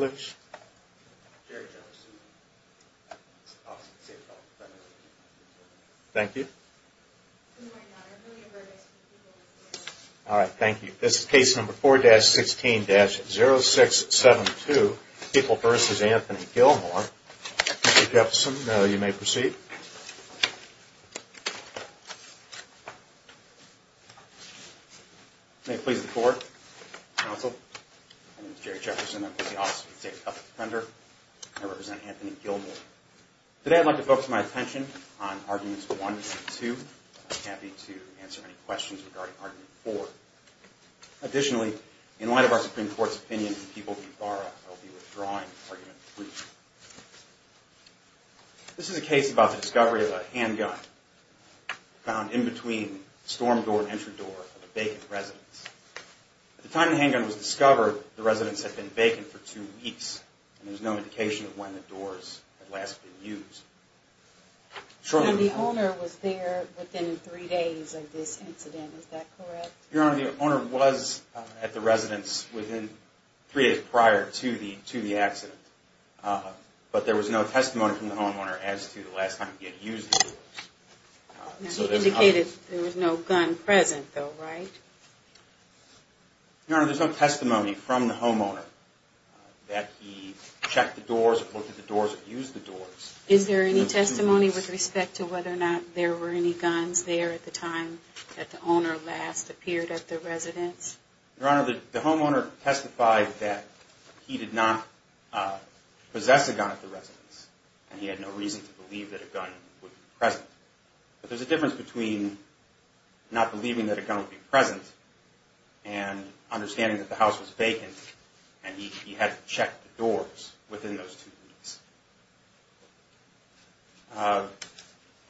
All right, thank you. This is case number 4-16-0672, People v. Anthony Gilmore. Mr. Jefferson, you may proceed. May it please the court, counsel. My name is Jerry Jefferson. I'm with the Office of the State of California Defender. I represent Anthony Gilmore. Today I'd like to focus my attention on Arguments 1 and 2. I'd be happy to answer any questions regarding Argument 4. Additionally, in light of our Supreme Court's opinion that People v. Barra will be withdrawing Argument 3. This is a case about the discovery of a handgun found in between the storm door and entry door of a vacant residence. At the time the handgun was discovered, the residence had been vacant for two weeks and there was no indication of when the doors had last been used. So the owner was there within three days of this incident, is that correct? Your Honor, the owner was at the residence within three days prior to the accident, but there was no testimony from the homeowner as to the last time he had used the doors. He indicated there was no gun present though, right? Your Honor, there's no testimony from the homeowner that he checked the doors or looked at the doors or used the doors. Is there any testimony with respect to whether or not there were any guns there at the time that the owner last appeared at the residence? Your Honor, the homeowner testified that he did not possess a gun at the residence and he had no reason to believe that a gun would be present. But there's a difference between not believing that a gun would be present and understanding that the house was vacant and he had to check the doors within those two weeks.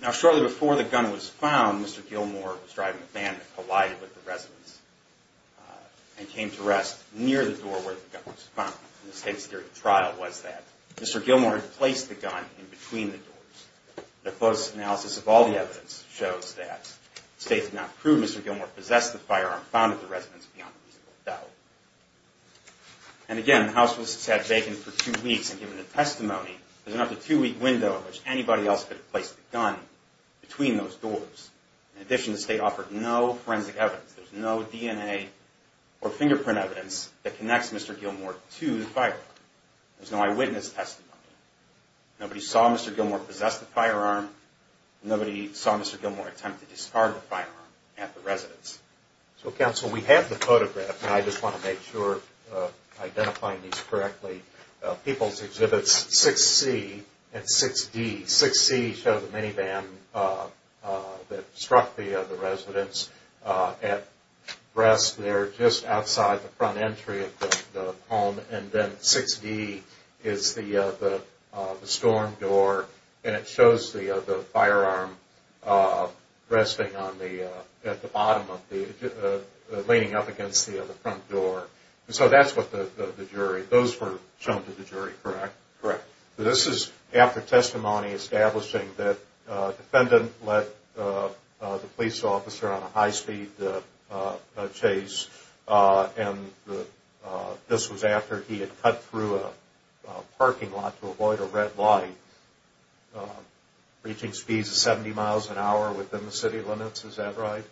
Now shortly before the gun was found, Mr. Gilmore was driving a van that collided with the residence and came to rest near the door where the gun was found. The state's theory of trial was that Mr. Gilmore had placed the gun in between the doors. The close analysis of all the evidence shows that the state did not prove Mr. Gilmore possessed the firearm found at the residence beyond reasonable doubt. And again, the house was sat vacant for two weeks and given the testimony, there's enough of a two-week window in which anybody else could have placed the gun between those doors. In addition, the state offered no forensic evidence. There's no DNA or fingerprint evidence that connects Mr. Gilmore to the firearm. There's no eyewitness testimony. Nobody saw Mr. Gilmore possess the firearm. Nobody saw Mr. Gilmore attempt to discard the firearm at the residence. So Council, we have the photograph and I just want to make sure I'm identifying these correctly. People's Exhibits 6C and 6D. 6C shows a minivan that struck the residence at rest there just outside the front entry of the home. And then 6D is the storm door and it shows the firearm resting at the bottom, leaning up against the front door. So that's what the jury, those were shown to the jury, correct? Correct. This is after testimony establishing that a defendant let the police officer on a high-speed chase. And this was after he had cut through a parking lot to avoid a red light, reaching speeds of 70 miles an hour within the city limits, is that right?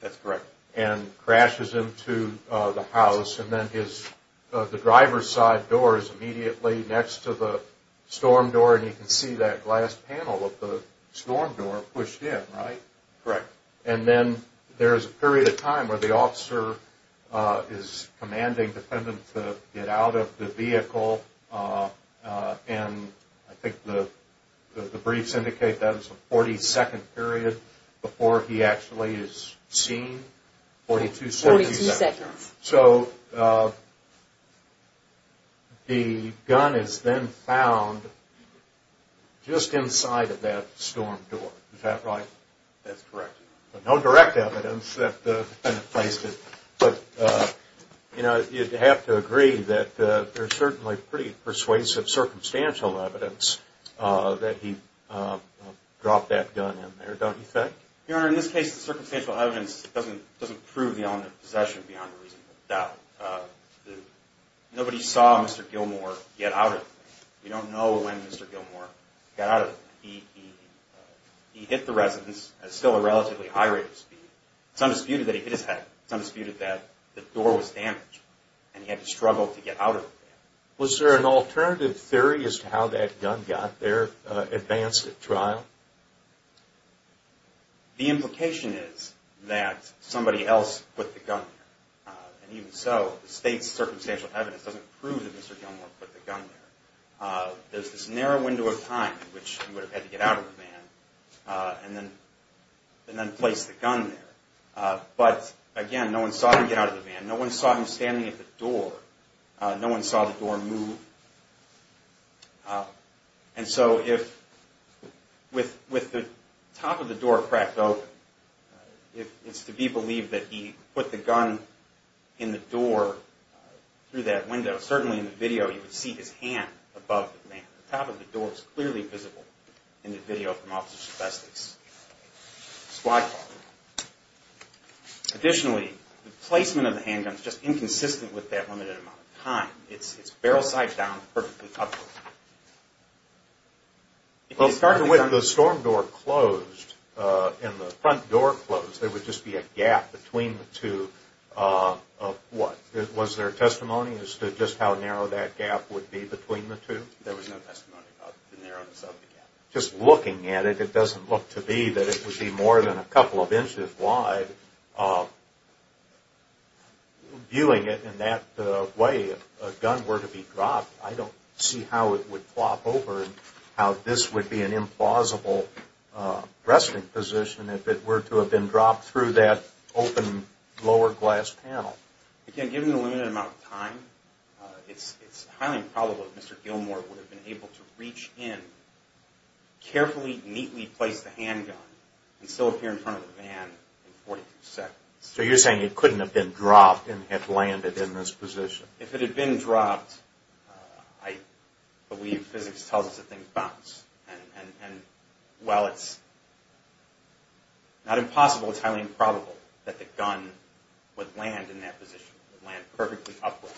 That's correct. And crashes into the house and then the driver's side door is immediately next to the storm door and you can see that glass panel of the storm door pushed in, right? Correct. And then there is a period of time where the officer is commanding the defendant to get out of the vehicle and I think the briefs indicate that is a 40-second period before he actually is seen. 42 seconds. So the gun is then found just inside of that storm door, is that right? That's correct. No direct evidence that the defendant placed it, but you'd have to agree that there's certainly pretty persuasive circumstantial evidence that he dropped that gun in there, don't you think? Your Honor, in this case the circumstantial evidence doesn't prove the element of possession beyond a reasonable doubt. Nobody saw Mr. Gilmore get out of the van. We don't know when Mr. Gilmore got out of the van. He hit the residence at still a relatively high rate of speed. It's undisputed that he hit his head. It's undisputed that the door was damaged and he had to struggle to get out of the van. Was there an alternative theory as to how that gun got there advanced at trial? The implication is that somebody else put the gun there. And even so, the state's circumstantial evidence doesn't prove that Mr. Gilmore put the gun there. There's this narrow window of time in which he would have had to get out of the van and then place the gun there. But again, no one saw him get out of the van. No one saw him standing at the door. No one saw the door move. And so with the top of the door cracked open, it's to be believed that he put the gun in the door through that window. Certainly in the video, you would see his hand above the van. The top of the door is clearly visible in the video from Officer Shabestek's squad car. Additionally, the placement of the handgun is just inconsistent with that limited amount of time. It's barrel side down, perfectly up. Well, starting with the storm door closed and the front door closed, there would just be a gap between the two of what? Was there testimony as to just how narrow that gap would be between the two? There was no testimony about the narrowness of the gap. Just looking at it, it doesn't look to be that it would be more than a couple of inches wide. Viewing it in that way, if a gun were to be dropped, I don't see how it would flop over and how this would be an implausible resting position if it were to have been dropped through that open lower glass panel. Again, given the limited amount of time, it's highly improbable that Mr. Gilmore would have been able to reach in, carefully, neatly place the handgun, and still appear in front of the van in 42 seconds. So you're saying it couldn't have been dropped and have landed in this position? If it had been dropped, I believe physics tells us that things bounce. And while it's not impossible, it's highly improbable that the gun would land in that position. It would land perfectly upward,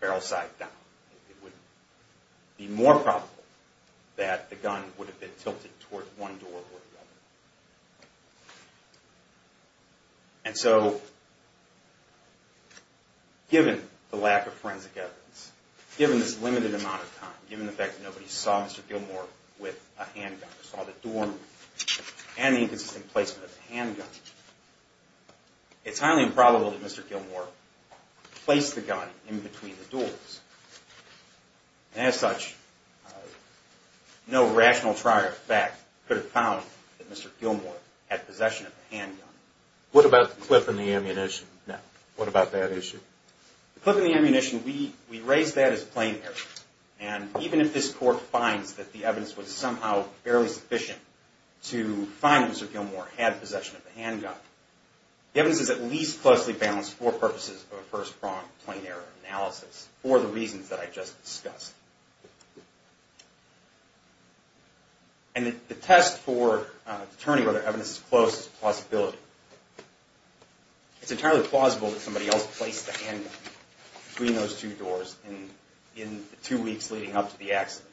barrel side down. It would be more probable that the gun would have been tilted toward one door or the other. And so, given the lack of forensic evidence, given this limited amount of time, given the fact that nobody saw Mr. Gilmore with a handgun, saw the door move, and the inconsistent placement of the handgun, it's highly improbable that Mr. Gilmore placed the gun in between the doors. And as such, no rational trier of fact could have found that Mr. Gilmore had possession of the handgun. What about the clip in the ammunition? What about that issue? The clip in the ammunition, we raise that as a plain error. And even if this court finds that the evidence was somehow barely sufficient to find that Mr. Gilmore had possession of the handgun, the evidence is at least closely balanced for purposes of a first pronged plain error analysis for the reasons that I just discussed. And the test for determining whether evidence is close is a possibility. It's entirely plausible that somebody else placed the handgun between those two doors in the two weeks leading up to the accident.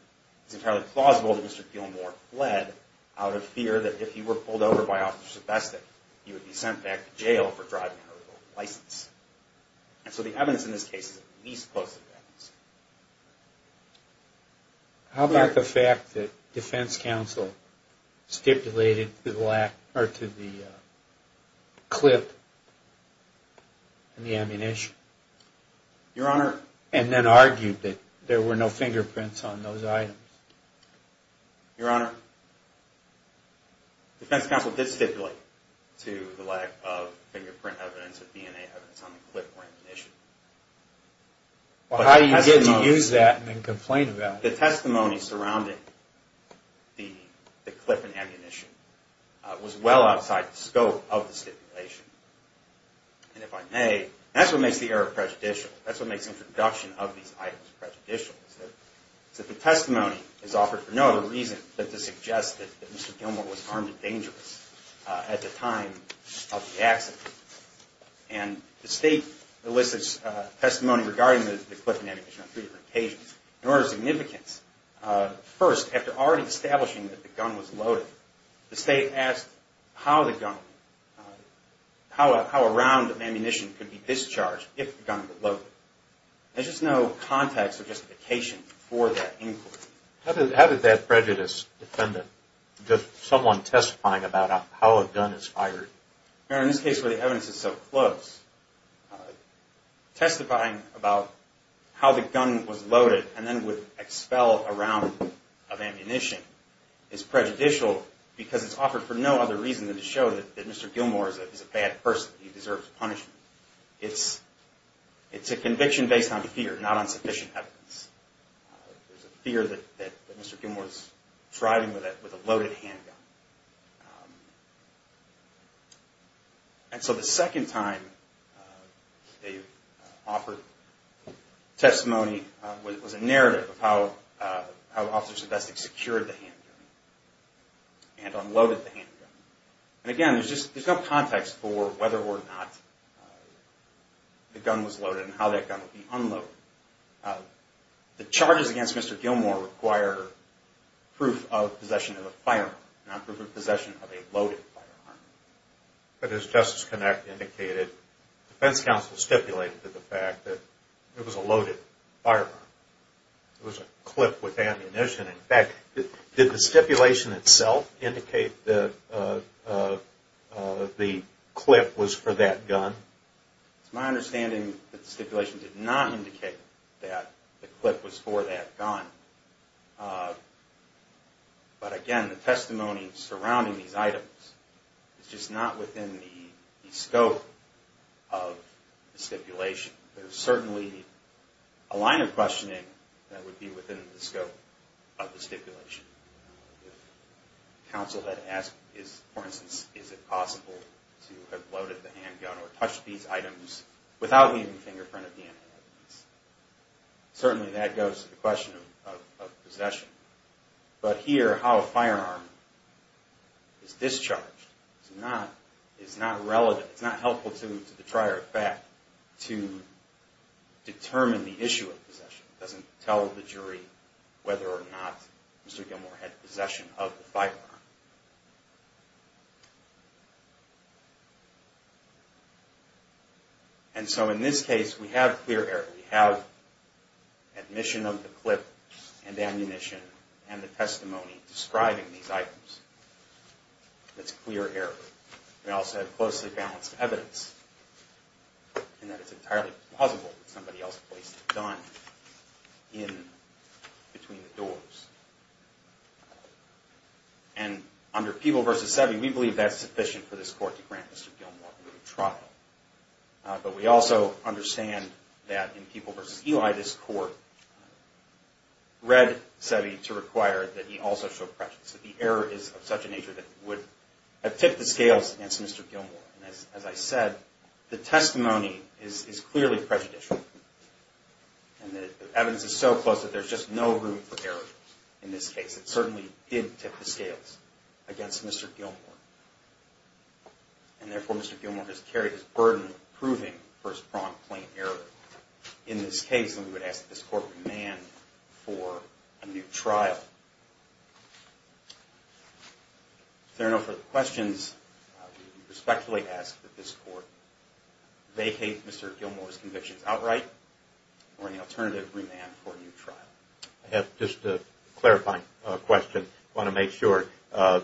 It's entirely plausible that Mr. Gilmore fled out of fear that if he were pulled over by officers of the best, that he would be sent back to jail for driving under license. And so the evidence in this case is at least close to the evidence. How about the fact that defense counsel stipulated to the clip in the ammunition and then argued that there were no fingerprints on those items? Your Honor, defense counsel did stipulate to the lack of fingerprint evidence or DNA evidence on the clip or ammunition. Well, how do you get to use that and then complain about it? The testimony surrounding the clip and ammunition was well outside the scope of the stipulation. And if I may, that's what makes the error prejudicial. That's what makes introduction of these items prejudicial. It's that the testimony is offered for no other reason than to suggest that Mr. Gilmore was armed and dangerous at the time of the accident. And the State elicits testimony regarding the clip and ammunition on three different occasions. In order of significance, first, after already establishing that the gun was loaded, the State asked how the gun, how a round of ammunition could be discharged if the gun was loaded. There's just no context or justification for that inquiry. How did that prejudice defendant, someone testifying about how a gun is fired? Your Honor, in this case where the evidence is so close, testifying about how the gun was loaded and then would expel a round of ammunition is prejudicial because it's offered for no other reason than to show that Mr. Gilmore is a bad person. He deserves punishment. It's a conviction based on fear, not on sufficient evidence. There's a fear that Mr. Gilmore is driving with a loaded handgun. And so the second time they offered testimony, it was a narrative of how Officer Sevestic secured the handgun and unloaded the handgun. And again, there's no context for whether or not the gun was loaded and how that gun would be unloaded. The charges against Mr. Gilmore require proof of possession of a firearm, not proof of possession of a loaded firearm. But as Justice Connacht indicated, defense counsel stipulated to the fact that it was a loaded firearm. It was a clip with ammunition. In fact, did the stipulation itself indicate that the clip was for that gun? It's my understanding that the stipulation did not indicate that the clip was for that gun. But again, the testimony surrounding these items is just not within the scope of the stipulation. There's certainly a line of questioning that would be within the scope of the stipulation. If counsel had asked, for instance, is it possible to have loaded the handgun or touched these items without leaving a fingerprint of DNA evidence, certainly that goes to the question of possession. But here, how a firearm is discharged is not relevant. It's not helpful to the trier of fact to determine the issue of possession. It doesn't tell the jury whether or not Mr. Gilmore had possession of the firearm. And so in this case, we have clear error. We have admission of the clip and ammunition and the testimony describing these items. That's clear error. We also have closely balanced evidence and that it's entirely plausible that somebody else placed a gun in between the doors. And under Peeble v. Seve, we believe that's sufficient for this Court to grant Mr. Gilmore a trial. But we also understand that in Peeble v. Eli, this Court read Seve to require that he also show prejudice, that the error is of such a nature that it would have tipped the scales against Mr. Gilmore. And as I said, the testimony is clearly prejudicial. And the evidence is so close that there's just no room for error in this case. It certainly did tip the scales against Mr. Gilmore. And therefore, Mr. Gilmore has carried his burden of proving first-pronged, plain error in this case. And we would ask that this Court demand for a new trial. If there are no further questions, we respectfully ask that this Court vacate Mr. Gilmore's convictions outright or any alternative remand for a new trial. I have just a clarifying question. I want to make sure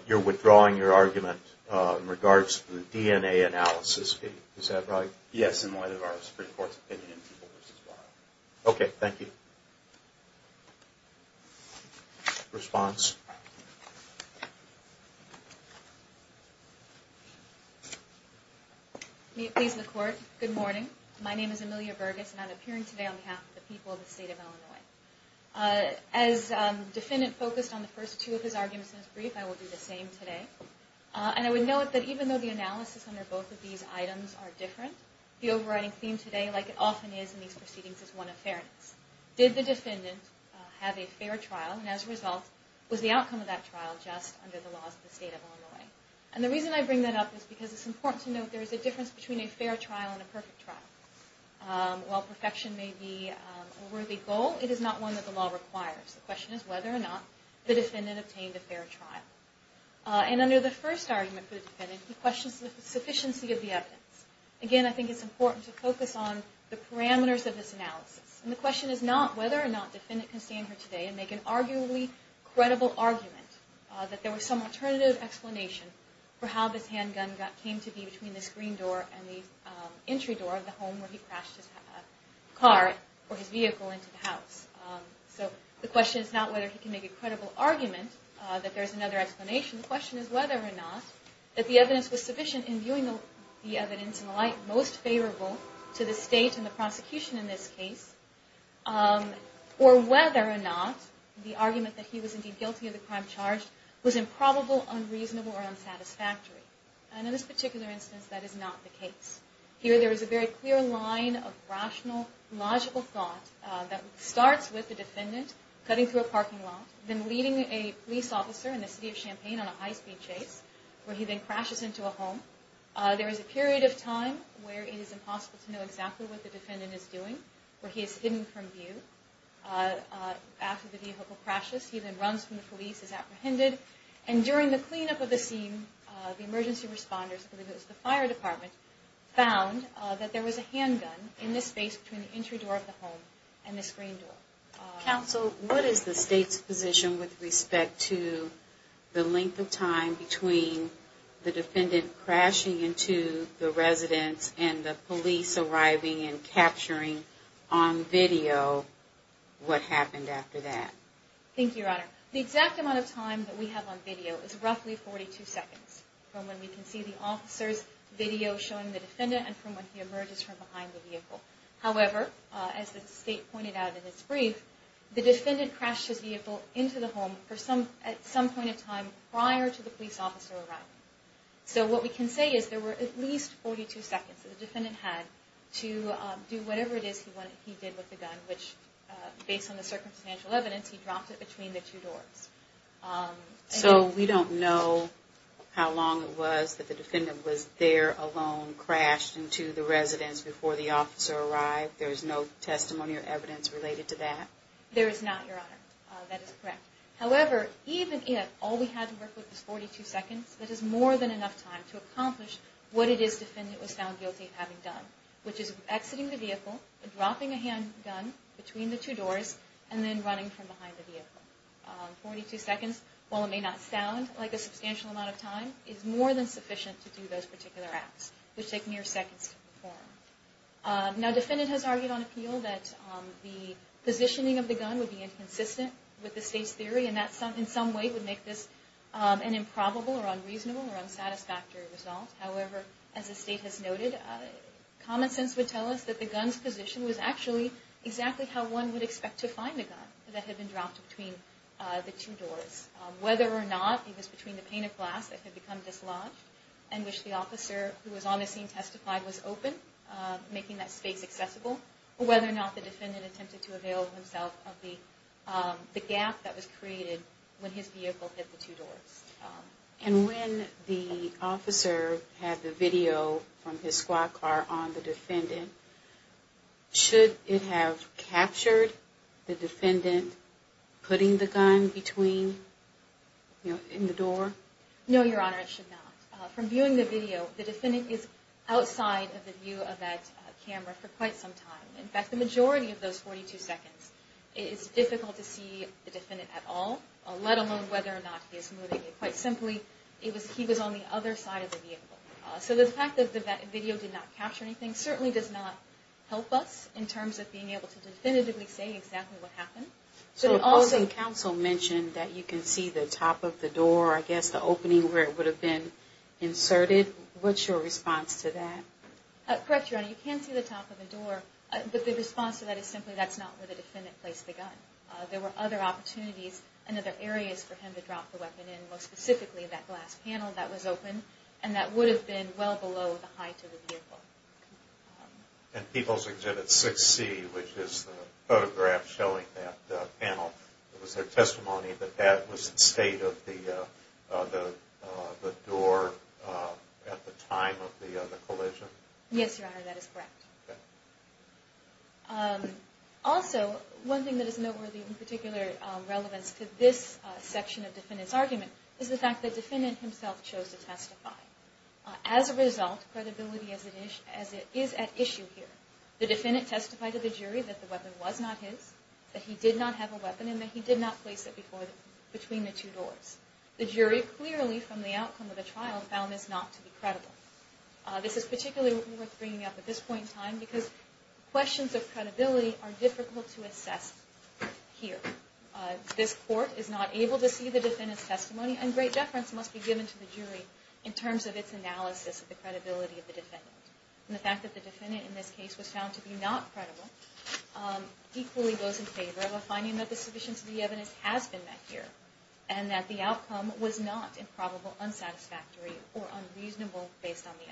you're withdrawing your argument in regards to the DNA analysis fee. Is that right? Yes, in light of our Supreme Court's opinion in Peeble v. Seve. Okay, thank you. Response? May it please the Court. Good morning. My name is Amelia Burgess, and I'm appearing today on behalf of the people of the State of Illinois. As defendant focused on the first two of his arguments in his brief, I will do the same today. And I would note that even though the analysis under both of these items are different, the overriding theme today, like it often is in these proceedings, is one of fairness. Did the defendant have a fair trial? And as a result, was the outcome of that trial just under the laws of the State of Illinois? And the reason I bring that up is because it's important to note there is a difference between a fair trial and a perfect trial. While perfection may be a worthy goal, it is not one that the law requires. The question is whether or not the defendant obtained a fair trial. And under the first argument for the defendant, he questions the sufficiency of the evidence. Again, I think it's important to focus on the parameters of this analysis. And the question is not whether or not the defendant can stand here today and make an arguably credible argument that there was some alternative explanation for how this handgun came to be between this green door and the entry door of the home where he crashed his car or his vehicle into the house. So the question is not whether he can make a credible argument that there is another explanation. The question is whether or not that the evidence was sufficient in viewing the evidence in the light most favorable to the state and the prosecution in this case, or whether or not the argument that he was indeed guilty of the crime charged was improbable, unreasonable, or unsatisfactory. And in this particular instance, that is not the case. Here there is a very clear line of rational, logical thought that starts with the defendant cutting through a parking lot, then leading a police officer in the city of Champaign on a high-speed chase, where he then crashes into a home. There is a period of time where it is impossible to know exactly what the defendant is doing, where he is hidden from view. After the vehicle crashes, he then runs from the police as apprehended. And during the cleanup of the scene, the emergency responders, I believe it was the fire department, found that there was a handgun in this space between the entry door of the home and this green door. Counsel, what is the state's position with respect to the length of time between the defendant crashing into the residence and the police arriving and capturing on video what happened after that? Thank you, Your Honor. The exact amount of time that we have on video is roughly 42 seconds, from when we can see the officer's video showing the defendant and from when he emerges from behind the vehicle. However, as the state pointed out in its brief, the defendant crashed his vehicle into the home at some point in time prior to the police officer arriving. So what we can say is there were at least 42 seconds that the defendant had to do whatever it is he did with the gun, which based on the circumstantial evidence, he dropped it between the two doors. So we don't know how long it was that the defendant was there alone, before he crashed into the residence before the officer arrived. There is no testimony or evidence related to that? There is not, Your Honor. That is correct. However, even if all we had to work with was 42 seconds, that is more than enough time to accomplish what it is the defendant was found guilty of having done, which is exiting the vehicle, dropping a handgun between the two doors, and then running from behind the vehicle. Forty-two seconds, while it may not sound like a substantial amount of time, is more than sufficient to do those particular acts, which take mere seconds to perform. Now, the defendant has argued on appeal that the positioning of the gun would be inconsistent with the state's theory, and that in some way would make this an improbable or unreasonable or unsatisfactory result. However, as the state has noted, common sense would tell us that the gun's position was actually exactly how one would expect to find a gun that had been dropped between the two doors. Whether or not it was between the pane of glass that had become dislodged, and which the officer who was on the scene testified was open, making that space accessible, or whether or not the defendant attempted to avail himself of the gap that was created when his vehicle hit the two doors. And when the officer had the video from his squad car on the defendant, should it have captured the defendant putting the gun between, you know, in the door? No, Your Honor, it should not. From viewing the video, the defendant is outside of the view of that camera for quite some time. In fact, the majority of those 42 seconds, it is difficult to see the defendant at all, let alone whether or not he is moving. Quite simply, he was on the other side of the vehicle. So the fact that the video did not capture anything certainly does not help us in terms of being able to definitively say exactly what happened. So the Boston Council mentioned that you can see the top of the door, I guess, the opening where it would have been inserted. What's your response to that? Correct, Your Honor, you can see the top of the door, but the response to that is simply that's not where the defendant placed the gun. There were other opportunities and other areas for him to drop the weapon in, most specifically that glass panel that was open, and that would have been well below the height of the vehicle. And People's Exhibit 6C, which is the photograph showing that panel, was there testimony that that was the state of the door at the time of the collision? Yes, Your Honor, that is correct. Also, one thing that is noteworthy in particular relevance to this section of the defendant's argument is the fact that the defendant himself chose to testify. As a result, credibility is at issue here. The defendant testified to the jury that the weapon was not his, that he did not have a weapon, and that he did not place it between the two doors. The jury clearly, from the outcome of the trial, found this not to be credible. This is particularly worth bringing up at this point in time, because questions of credibility are difficult to assess here. This Court is not able to see the defendant's testimony, and great deference must be given to the jury in terms of its analysis of the credibility of the defendant. The fact that the defendant in this case was found to be not credible equally goes in favor of a finding that the sufficiency of the evidence has been met here, and that the outcome was not improbable, unsatisfactory, or unreasonable based on the evidence.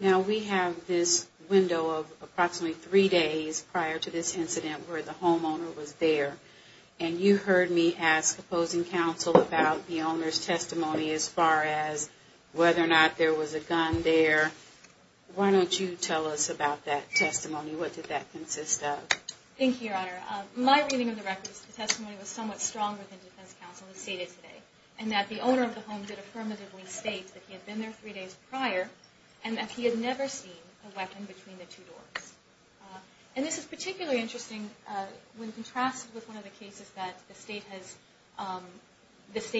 Now, we have this window of approximately three days prior to this incident where the homeowner was there, and you heard me ask opposing counsel about the owner's testimony as far as whether or not there was a gun there. Why don't you tell us about that testimony? What did that consist of? Thank you, Your Honor. My reading of the record is the testimony was somewhat strong within defense counsel as stated today, and that the owner of the home did affirmatively state that he had been there three days prior and that he had never seen a weapon between the two doors. And this is particularly interesting when contrasted with one of the cases that the State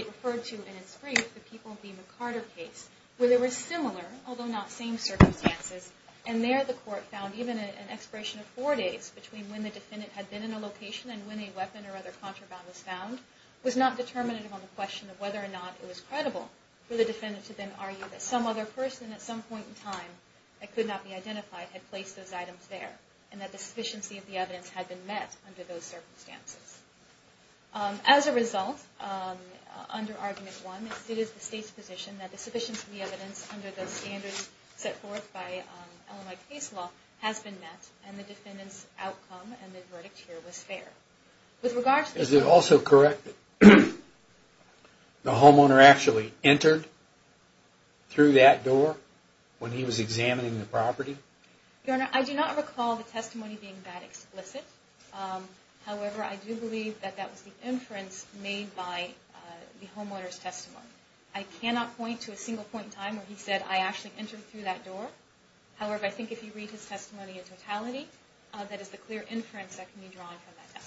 referred to in its brief, the People v. McCarter case, where they were similar, although not same circumstances, and there the Court found even an expiration of four days between when the gun was found in a location and when a weapon or other contraband was found was not determinative on the question of whether or not it was credible for the defendant to then argue that some other person at some point in time that could not be identified had placed those items there, and that the sufficiency of the evidence had been met under those circumstances. As a result, under Argument 1, it is the State's position that the sufficiency of the evidence under the standards set forth by LMI case law has been met, and the defendant's outcome and the verdict here was fair. Is it also correct that the homeowner actually entered through that door when he was examining the property? Your Honor, I do not recall the testimony being that explicit. However, I do believe that that was the inference made by the homeowner's testimony. I cannot point to a single point in time where he said, I actually entered through that door. However, I think if you read his testimony in totality, that is the clear inference that can be drawn from that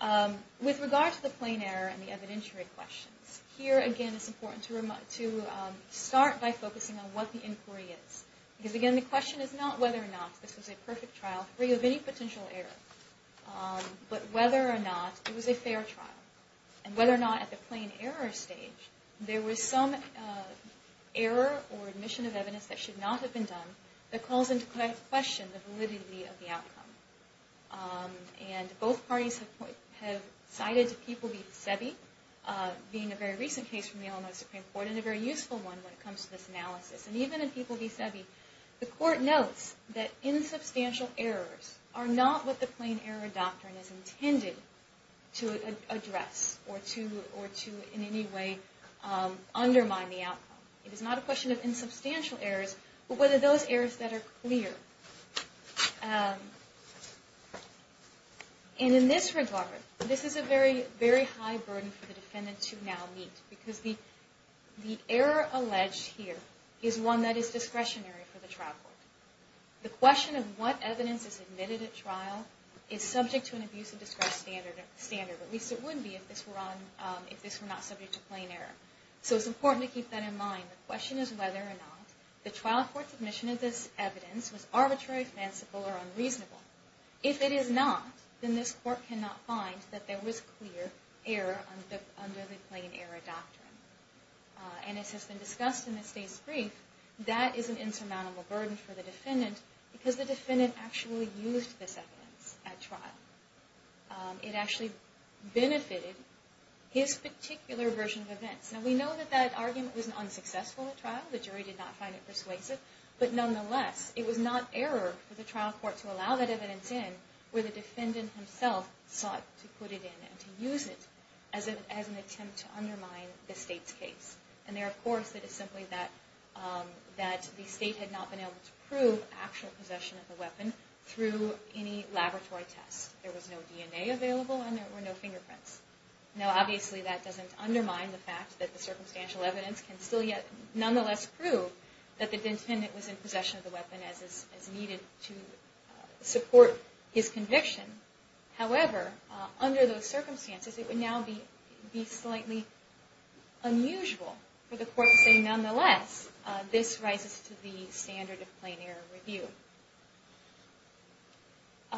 testimony. With regard to the plain error and the evidentiary questions, here again it's important to start by focusing on what the inquiry is. Because again, the question is not whether or not this was a perfect trial free of any potential error, but whether or not it was a fair trial, and whether or not at the plain error stage there was some error or admission of evidence that should not have been done, that calls into question the validity of the outcome. And both parties have cited People v. Sebi being a very recent case from the LMI Supreme Court and a very useful one when it comes to this analysis. And even in People v. Sebi, the Court notes that insubstantial errors are not what the plain error It is not a question of insubstantial errors, but whether those errors that are clear. And in this regard, this is a very high burden for the defendant to now meet. Because the error alleged here is one that is discretionary for the trial court. The question of what evidence is admitted at trial is subject to an abuse of discretion standard, or at least it would be if this were not subject to plain error. So it's important to keep that in mind. The question is whether or not the trial court's admission of this evidence was arbitrary, fanciful, or unreasonable. If it is not, then this Court cannot find that there was clear error under the plain error doctrine. And as has been discussed in the state's brief, that is an insurmountable burden for the defendant because the defendant actually used this evidence at trial. It actually benefited his particular version of events. And we know that that argument was unsuccessful at trial. The jury did not find it persuasive. But nonetheless, it was not error for the trial court to allow that evidence in where the defendant himself sought to put it in and to use it as an attempt to undermine the state's case. And there, of course, it is simply that the state had not been able to prove the actual possession of the weapon through any laboratory test. There was no DNA available and there were no fingerprints. Now, obviously, that doesn't undermine the fact that the circumstantial evidence can still yet nonetheless prove that the defendant was in possession of the weapon as needed to support his conviction. However, under those circumstances, it would now be slightly unusual for the defendant to be able to prove that he was in possession of the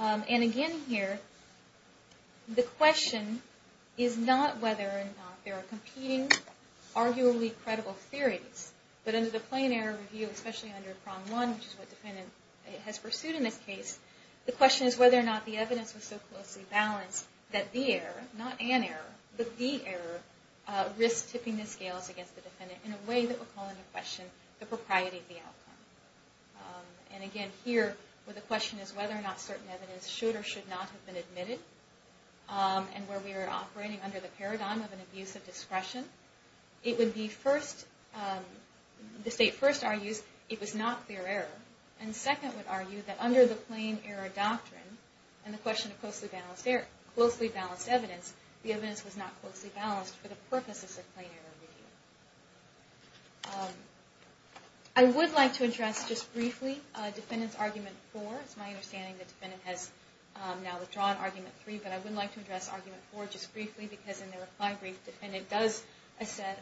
weapon. And again here, the question is not whether or not there are competing, arguably credible theories. But under the plain error review, especially under prong one, which is what the defendant has pursued in this case, the question is whether or not the evidence was so closely balanced that the error, not an error, but the error, risks tipping the scales against the defendant in a way that would call into question the propriety of the outcome. And again here, where the question is whether or not certain evidence should or should not have been admitted and where we are operating under the paradigm of an abuse of discretion, it would be first, the state first argues it was not clear error. And second would argue that under the plain error doctrine and the question of closely balanced evidence, the evidence was not closely balanced for the I would like to address just briefly Defendant's Argument 4. It's my understanding the defendant has now withdrawn Argument 3, but I would like to address Argument 4 just briefly because in the reply brief, the defendant does assert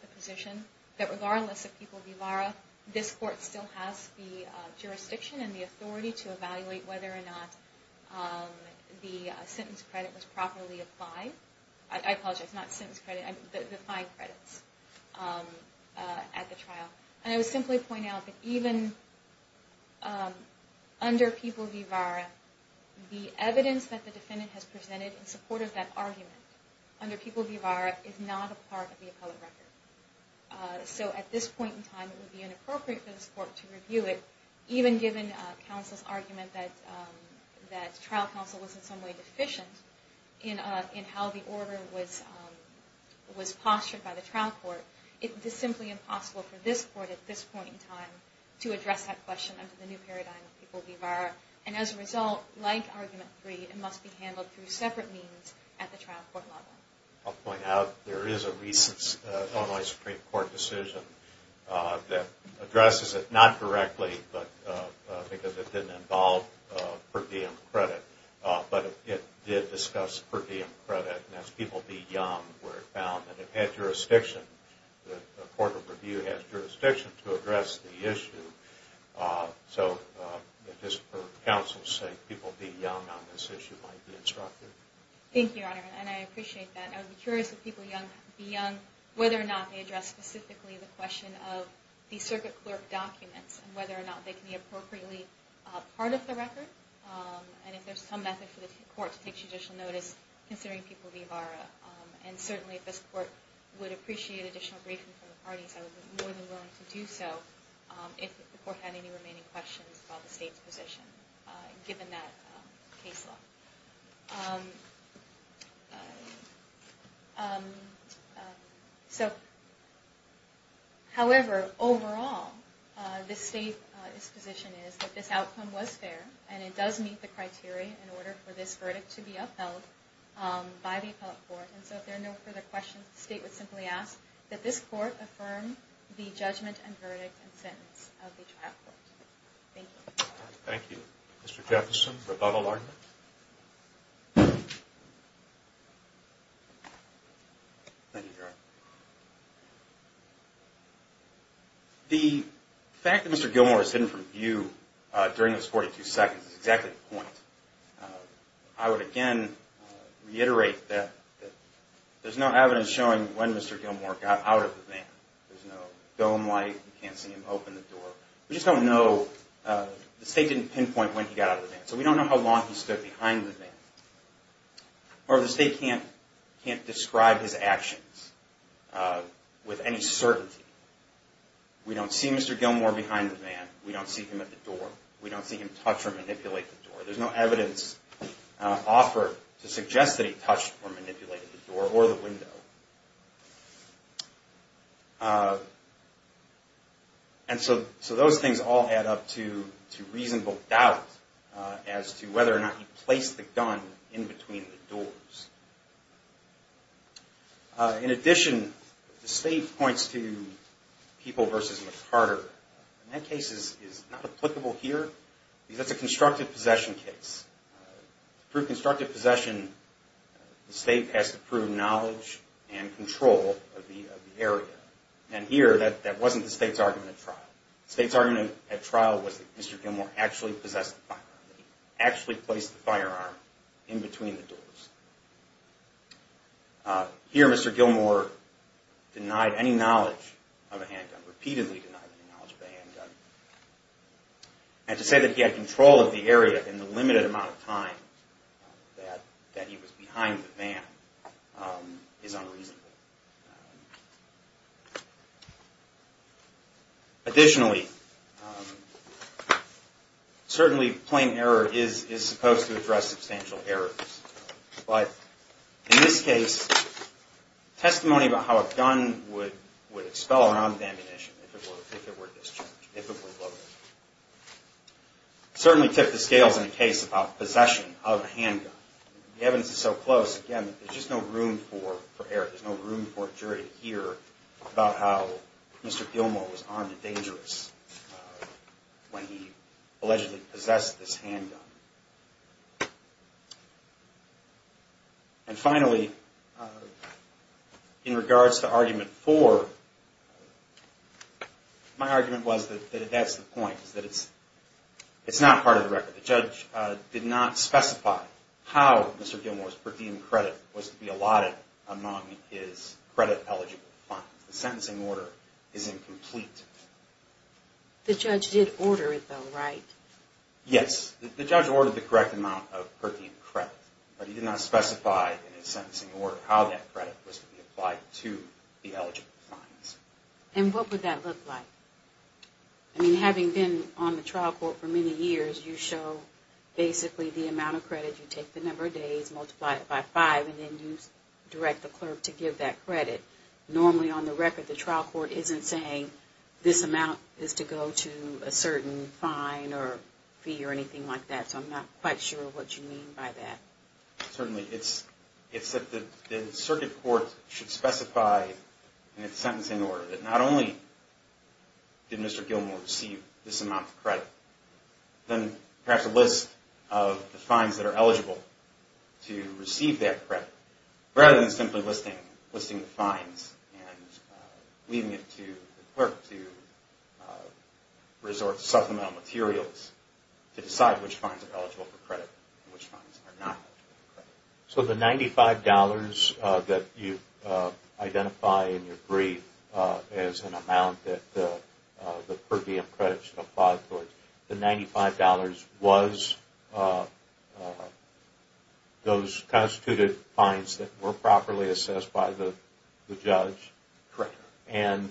the position that regardless of people v. VARA, this court still has the jurisdiction and the authority to evaluate whether or not the sentence credit was properly applied. I apologize, not sentence credit, the fine credits at the trial. And I would simply point out that even under people v. VARA, the evidence that the defendant has presented in support of that argument under people v. VARA is not a part of the appellate record. So at this point in time, it would be inappropriate for this court to review it, even given counsel's argument that trial counsel was in some way deficient in how the order was postured by the trial court. It is simply impossible for this court at this point in time to address that question under the new paradigm of people v. VARA. And as a result, like Argument 3, it must be handled through separate means at the trial court level. I'll point out there is a recent Illinois Supreme Court decision that addresses it not correctly because it didn't involve per diem credit, but it did discuss per diem credit, and that's people v. Young, where it found that it had jurisdiction, that the court of review has jurisdiction to address the issue. So just for counsel's sake, people v. Young on this issue might be instructed. Thank you, Your Honor, and I appreciate that. I would be curious if people v. Young, whether or not they address specifically the question of the circuit clerk documents and whether or not they can be appropriately part of the record. And if there's some method for the court to take judicial notice, considering people v. VARA. And certainly if this court would appreciate additional briefing from the parties, I would be more than willing to do so if the court had any remaining questions about the state's position given that case law. However, overall, this state's position is that this outcome was fair and it does meet the criteria in order for this verdict to be upheld by the appellate court. And so if there are no further questions, the state would simply ask that this court affirm the judgment and verdict and sentence of the trial court. Thank you. Thank you. Thank you, Your Honor. The fact that Mr. Gilmour is hidden from view during those 42 seconds is exactly the point. I would again reiterate that there's no evidence showing when Mr. Gilmour got out of the van. There's no dome light. You can't see him open the door. We just don't know. The state didn't pinpoint when he got out of the van. So we don't know how long he stood behind the van. Or the state can't describe his actions. With any certainty. We don't see Mr. Gilmour behind the van. We don't see him at the door. We don't see him touch or manipulate the door. There's no evidence offered to suggest that he touched or manipulated the door or the window. And so those things all add up to reasonable doubt In addition, the state points to People v. McCarter. And that case is not applicable here because that's a constructive possession case. To prove constructive possession, the state has to prove knowledge and control of the area. And here, that wasn't the state's argument at trial. The state's argument at trial was that Mr. Gilmour actually possessed the firearm. He actually placed the firearm in between the doors. Here, Mr. Gilmour denied any knowledge of a handgun. Repeatedly denied any knowledge of a handgun. And to say that he had control of the area in the limited amount of time that he was behind the van is unreasonable. Additionally, certainly plain error is supposed to address substantial errors. But in this case, testimony about how a gun would expel a round of ammunition if it were discharged, if it were loaded, certainly tip the scales in a case about possession of a handgun. The evidence is so close, again, there's just no room for error. There's no room for a jury to hear about how Mr. Gilmour was armed and dangerous when he allegedly possessed this handgun. And finally, in regards to argument four, my argument was that that's the point. It's not part of the record. The judge did not specify how Mr. Gilmour's per diem credit was to be allotted among his credit-eligible funds. The sentencing order is incomplete. The judge did order it, though, right? Yes. The judge ordered the correct amount of per diem credit. But he did not specify in his sentencing order how that credit was to be applied to the eligible funds. And what would that look like? I mean, having been on the trial court for many years, you show basically the amount of credit. You take the number of days, multiply it by five, and then you direct the clerk to give that credit. Normally, on the record, the trial court isn't saying this amount is to go to a certain fine or fee or anything like that. So I'm not quite sure what you mean by that. Certainly. It's that the circuit court should specify in its sentencing order that not only did Mr. Gilmour receive this amount of credit, then perhaps a list of the fines that are eligible to receive that credit, rather than simply listing the fines and leaving it to the clerk to resort to supplemental materials to decide which fines are eligible for credit and which fines are not. So the $95 that you identify in your brief as an amount that the per diem credit should apply towards, the $95 was those constituted fines that were properly assessed by the judge? Correct. And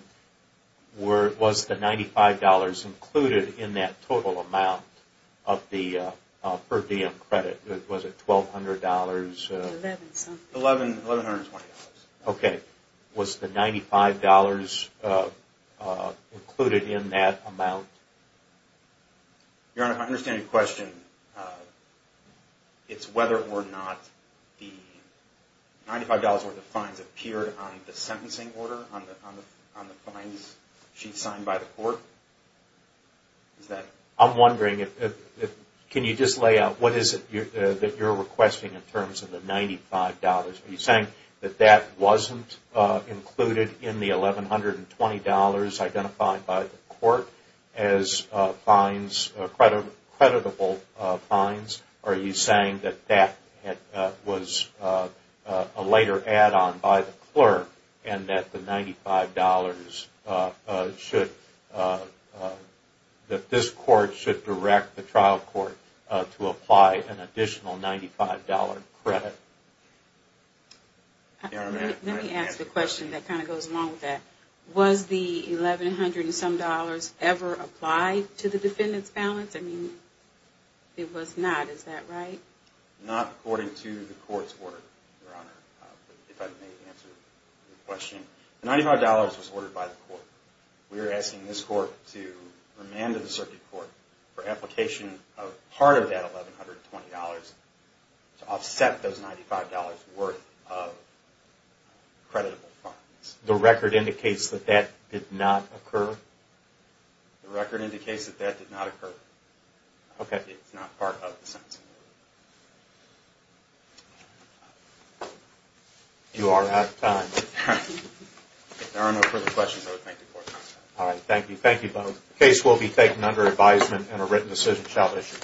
was the $95 included in that total amount of the per diem credit? Was it $1,200? $1,120. Okay. Was the $95 included in that amount? Your Honor, I understand your question. It's whether or not the $95 worth of fines appeared on the sentencing order, on the fines sheet signed by the court? I'm wondering, can you just lay out what is it that you're requesting in terms of the $95? Are you saying that that wasn't included in the $1,120 identified by the court as fines, creditable fines? Are you saying that that was a later add-on by the clerk and that the $95 should, that this court should direct the trial court to apply an additional $95 credit? Let me ask the question that kind of goes along with that. Was the $1,100 and some dollars ever applied to the defendant's balance? I mean, it was not, is that right? Not according to the court's order, Your Honor, if I may answer your question. $95 was ordered by the court. We are asking this court to remand to the circuit court for application of part of that $1,120 to offset those $95 worth of creditable fines. The record indicates that that did not occur? The record indicates that that did not occur. Okay. It's not part of the sentencing order. You are out of time. If there are no further questions, I would thank the court. All right. Thank you. Thank you both. The case will be taken under advisement and a written decision shall be issued.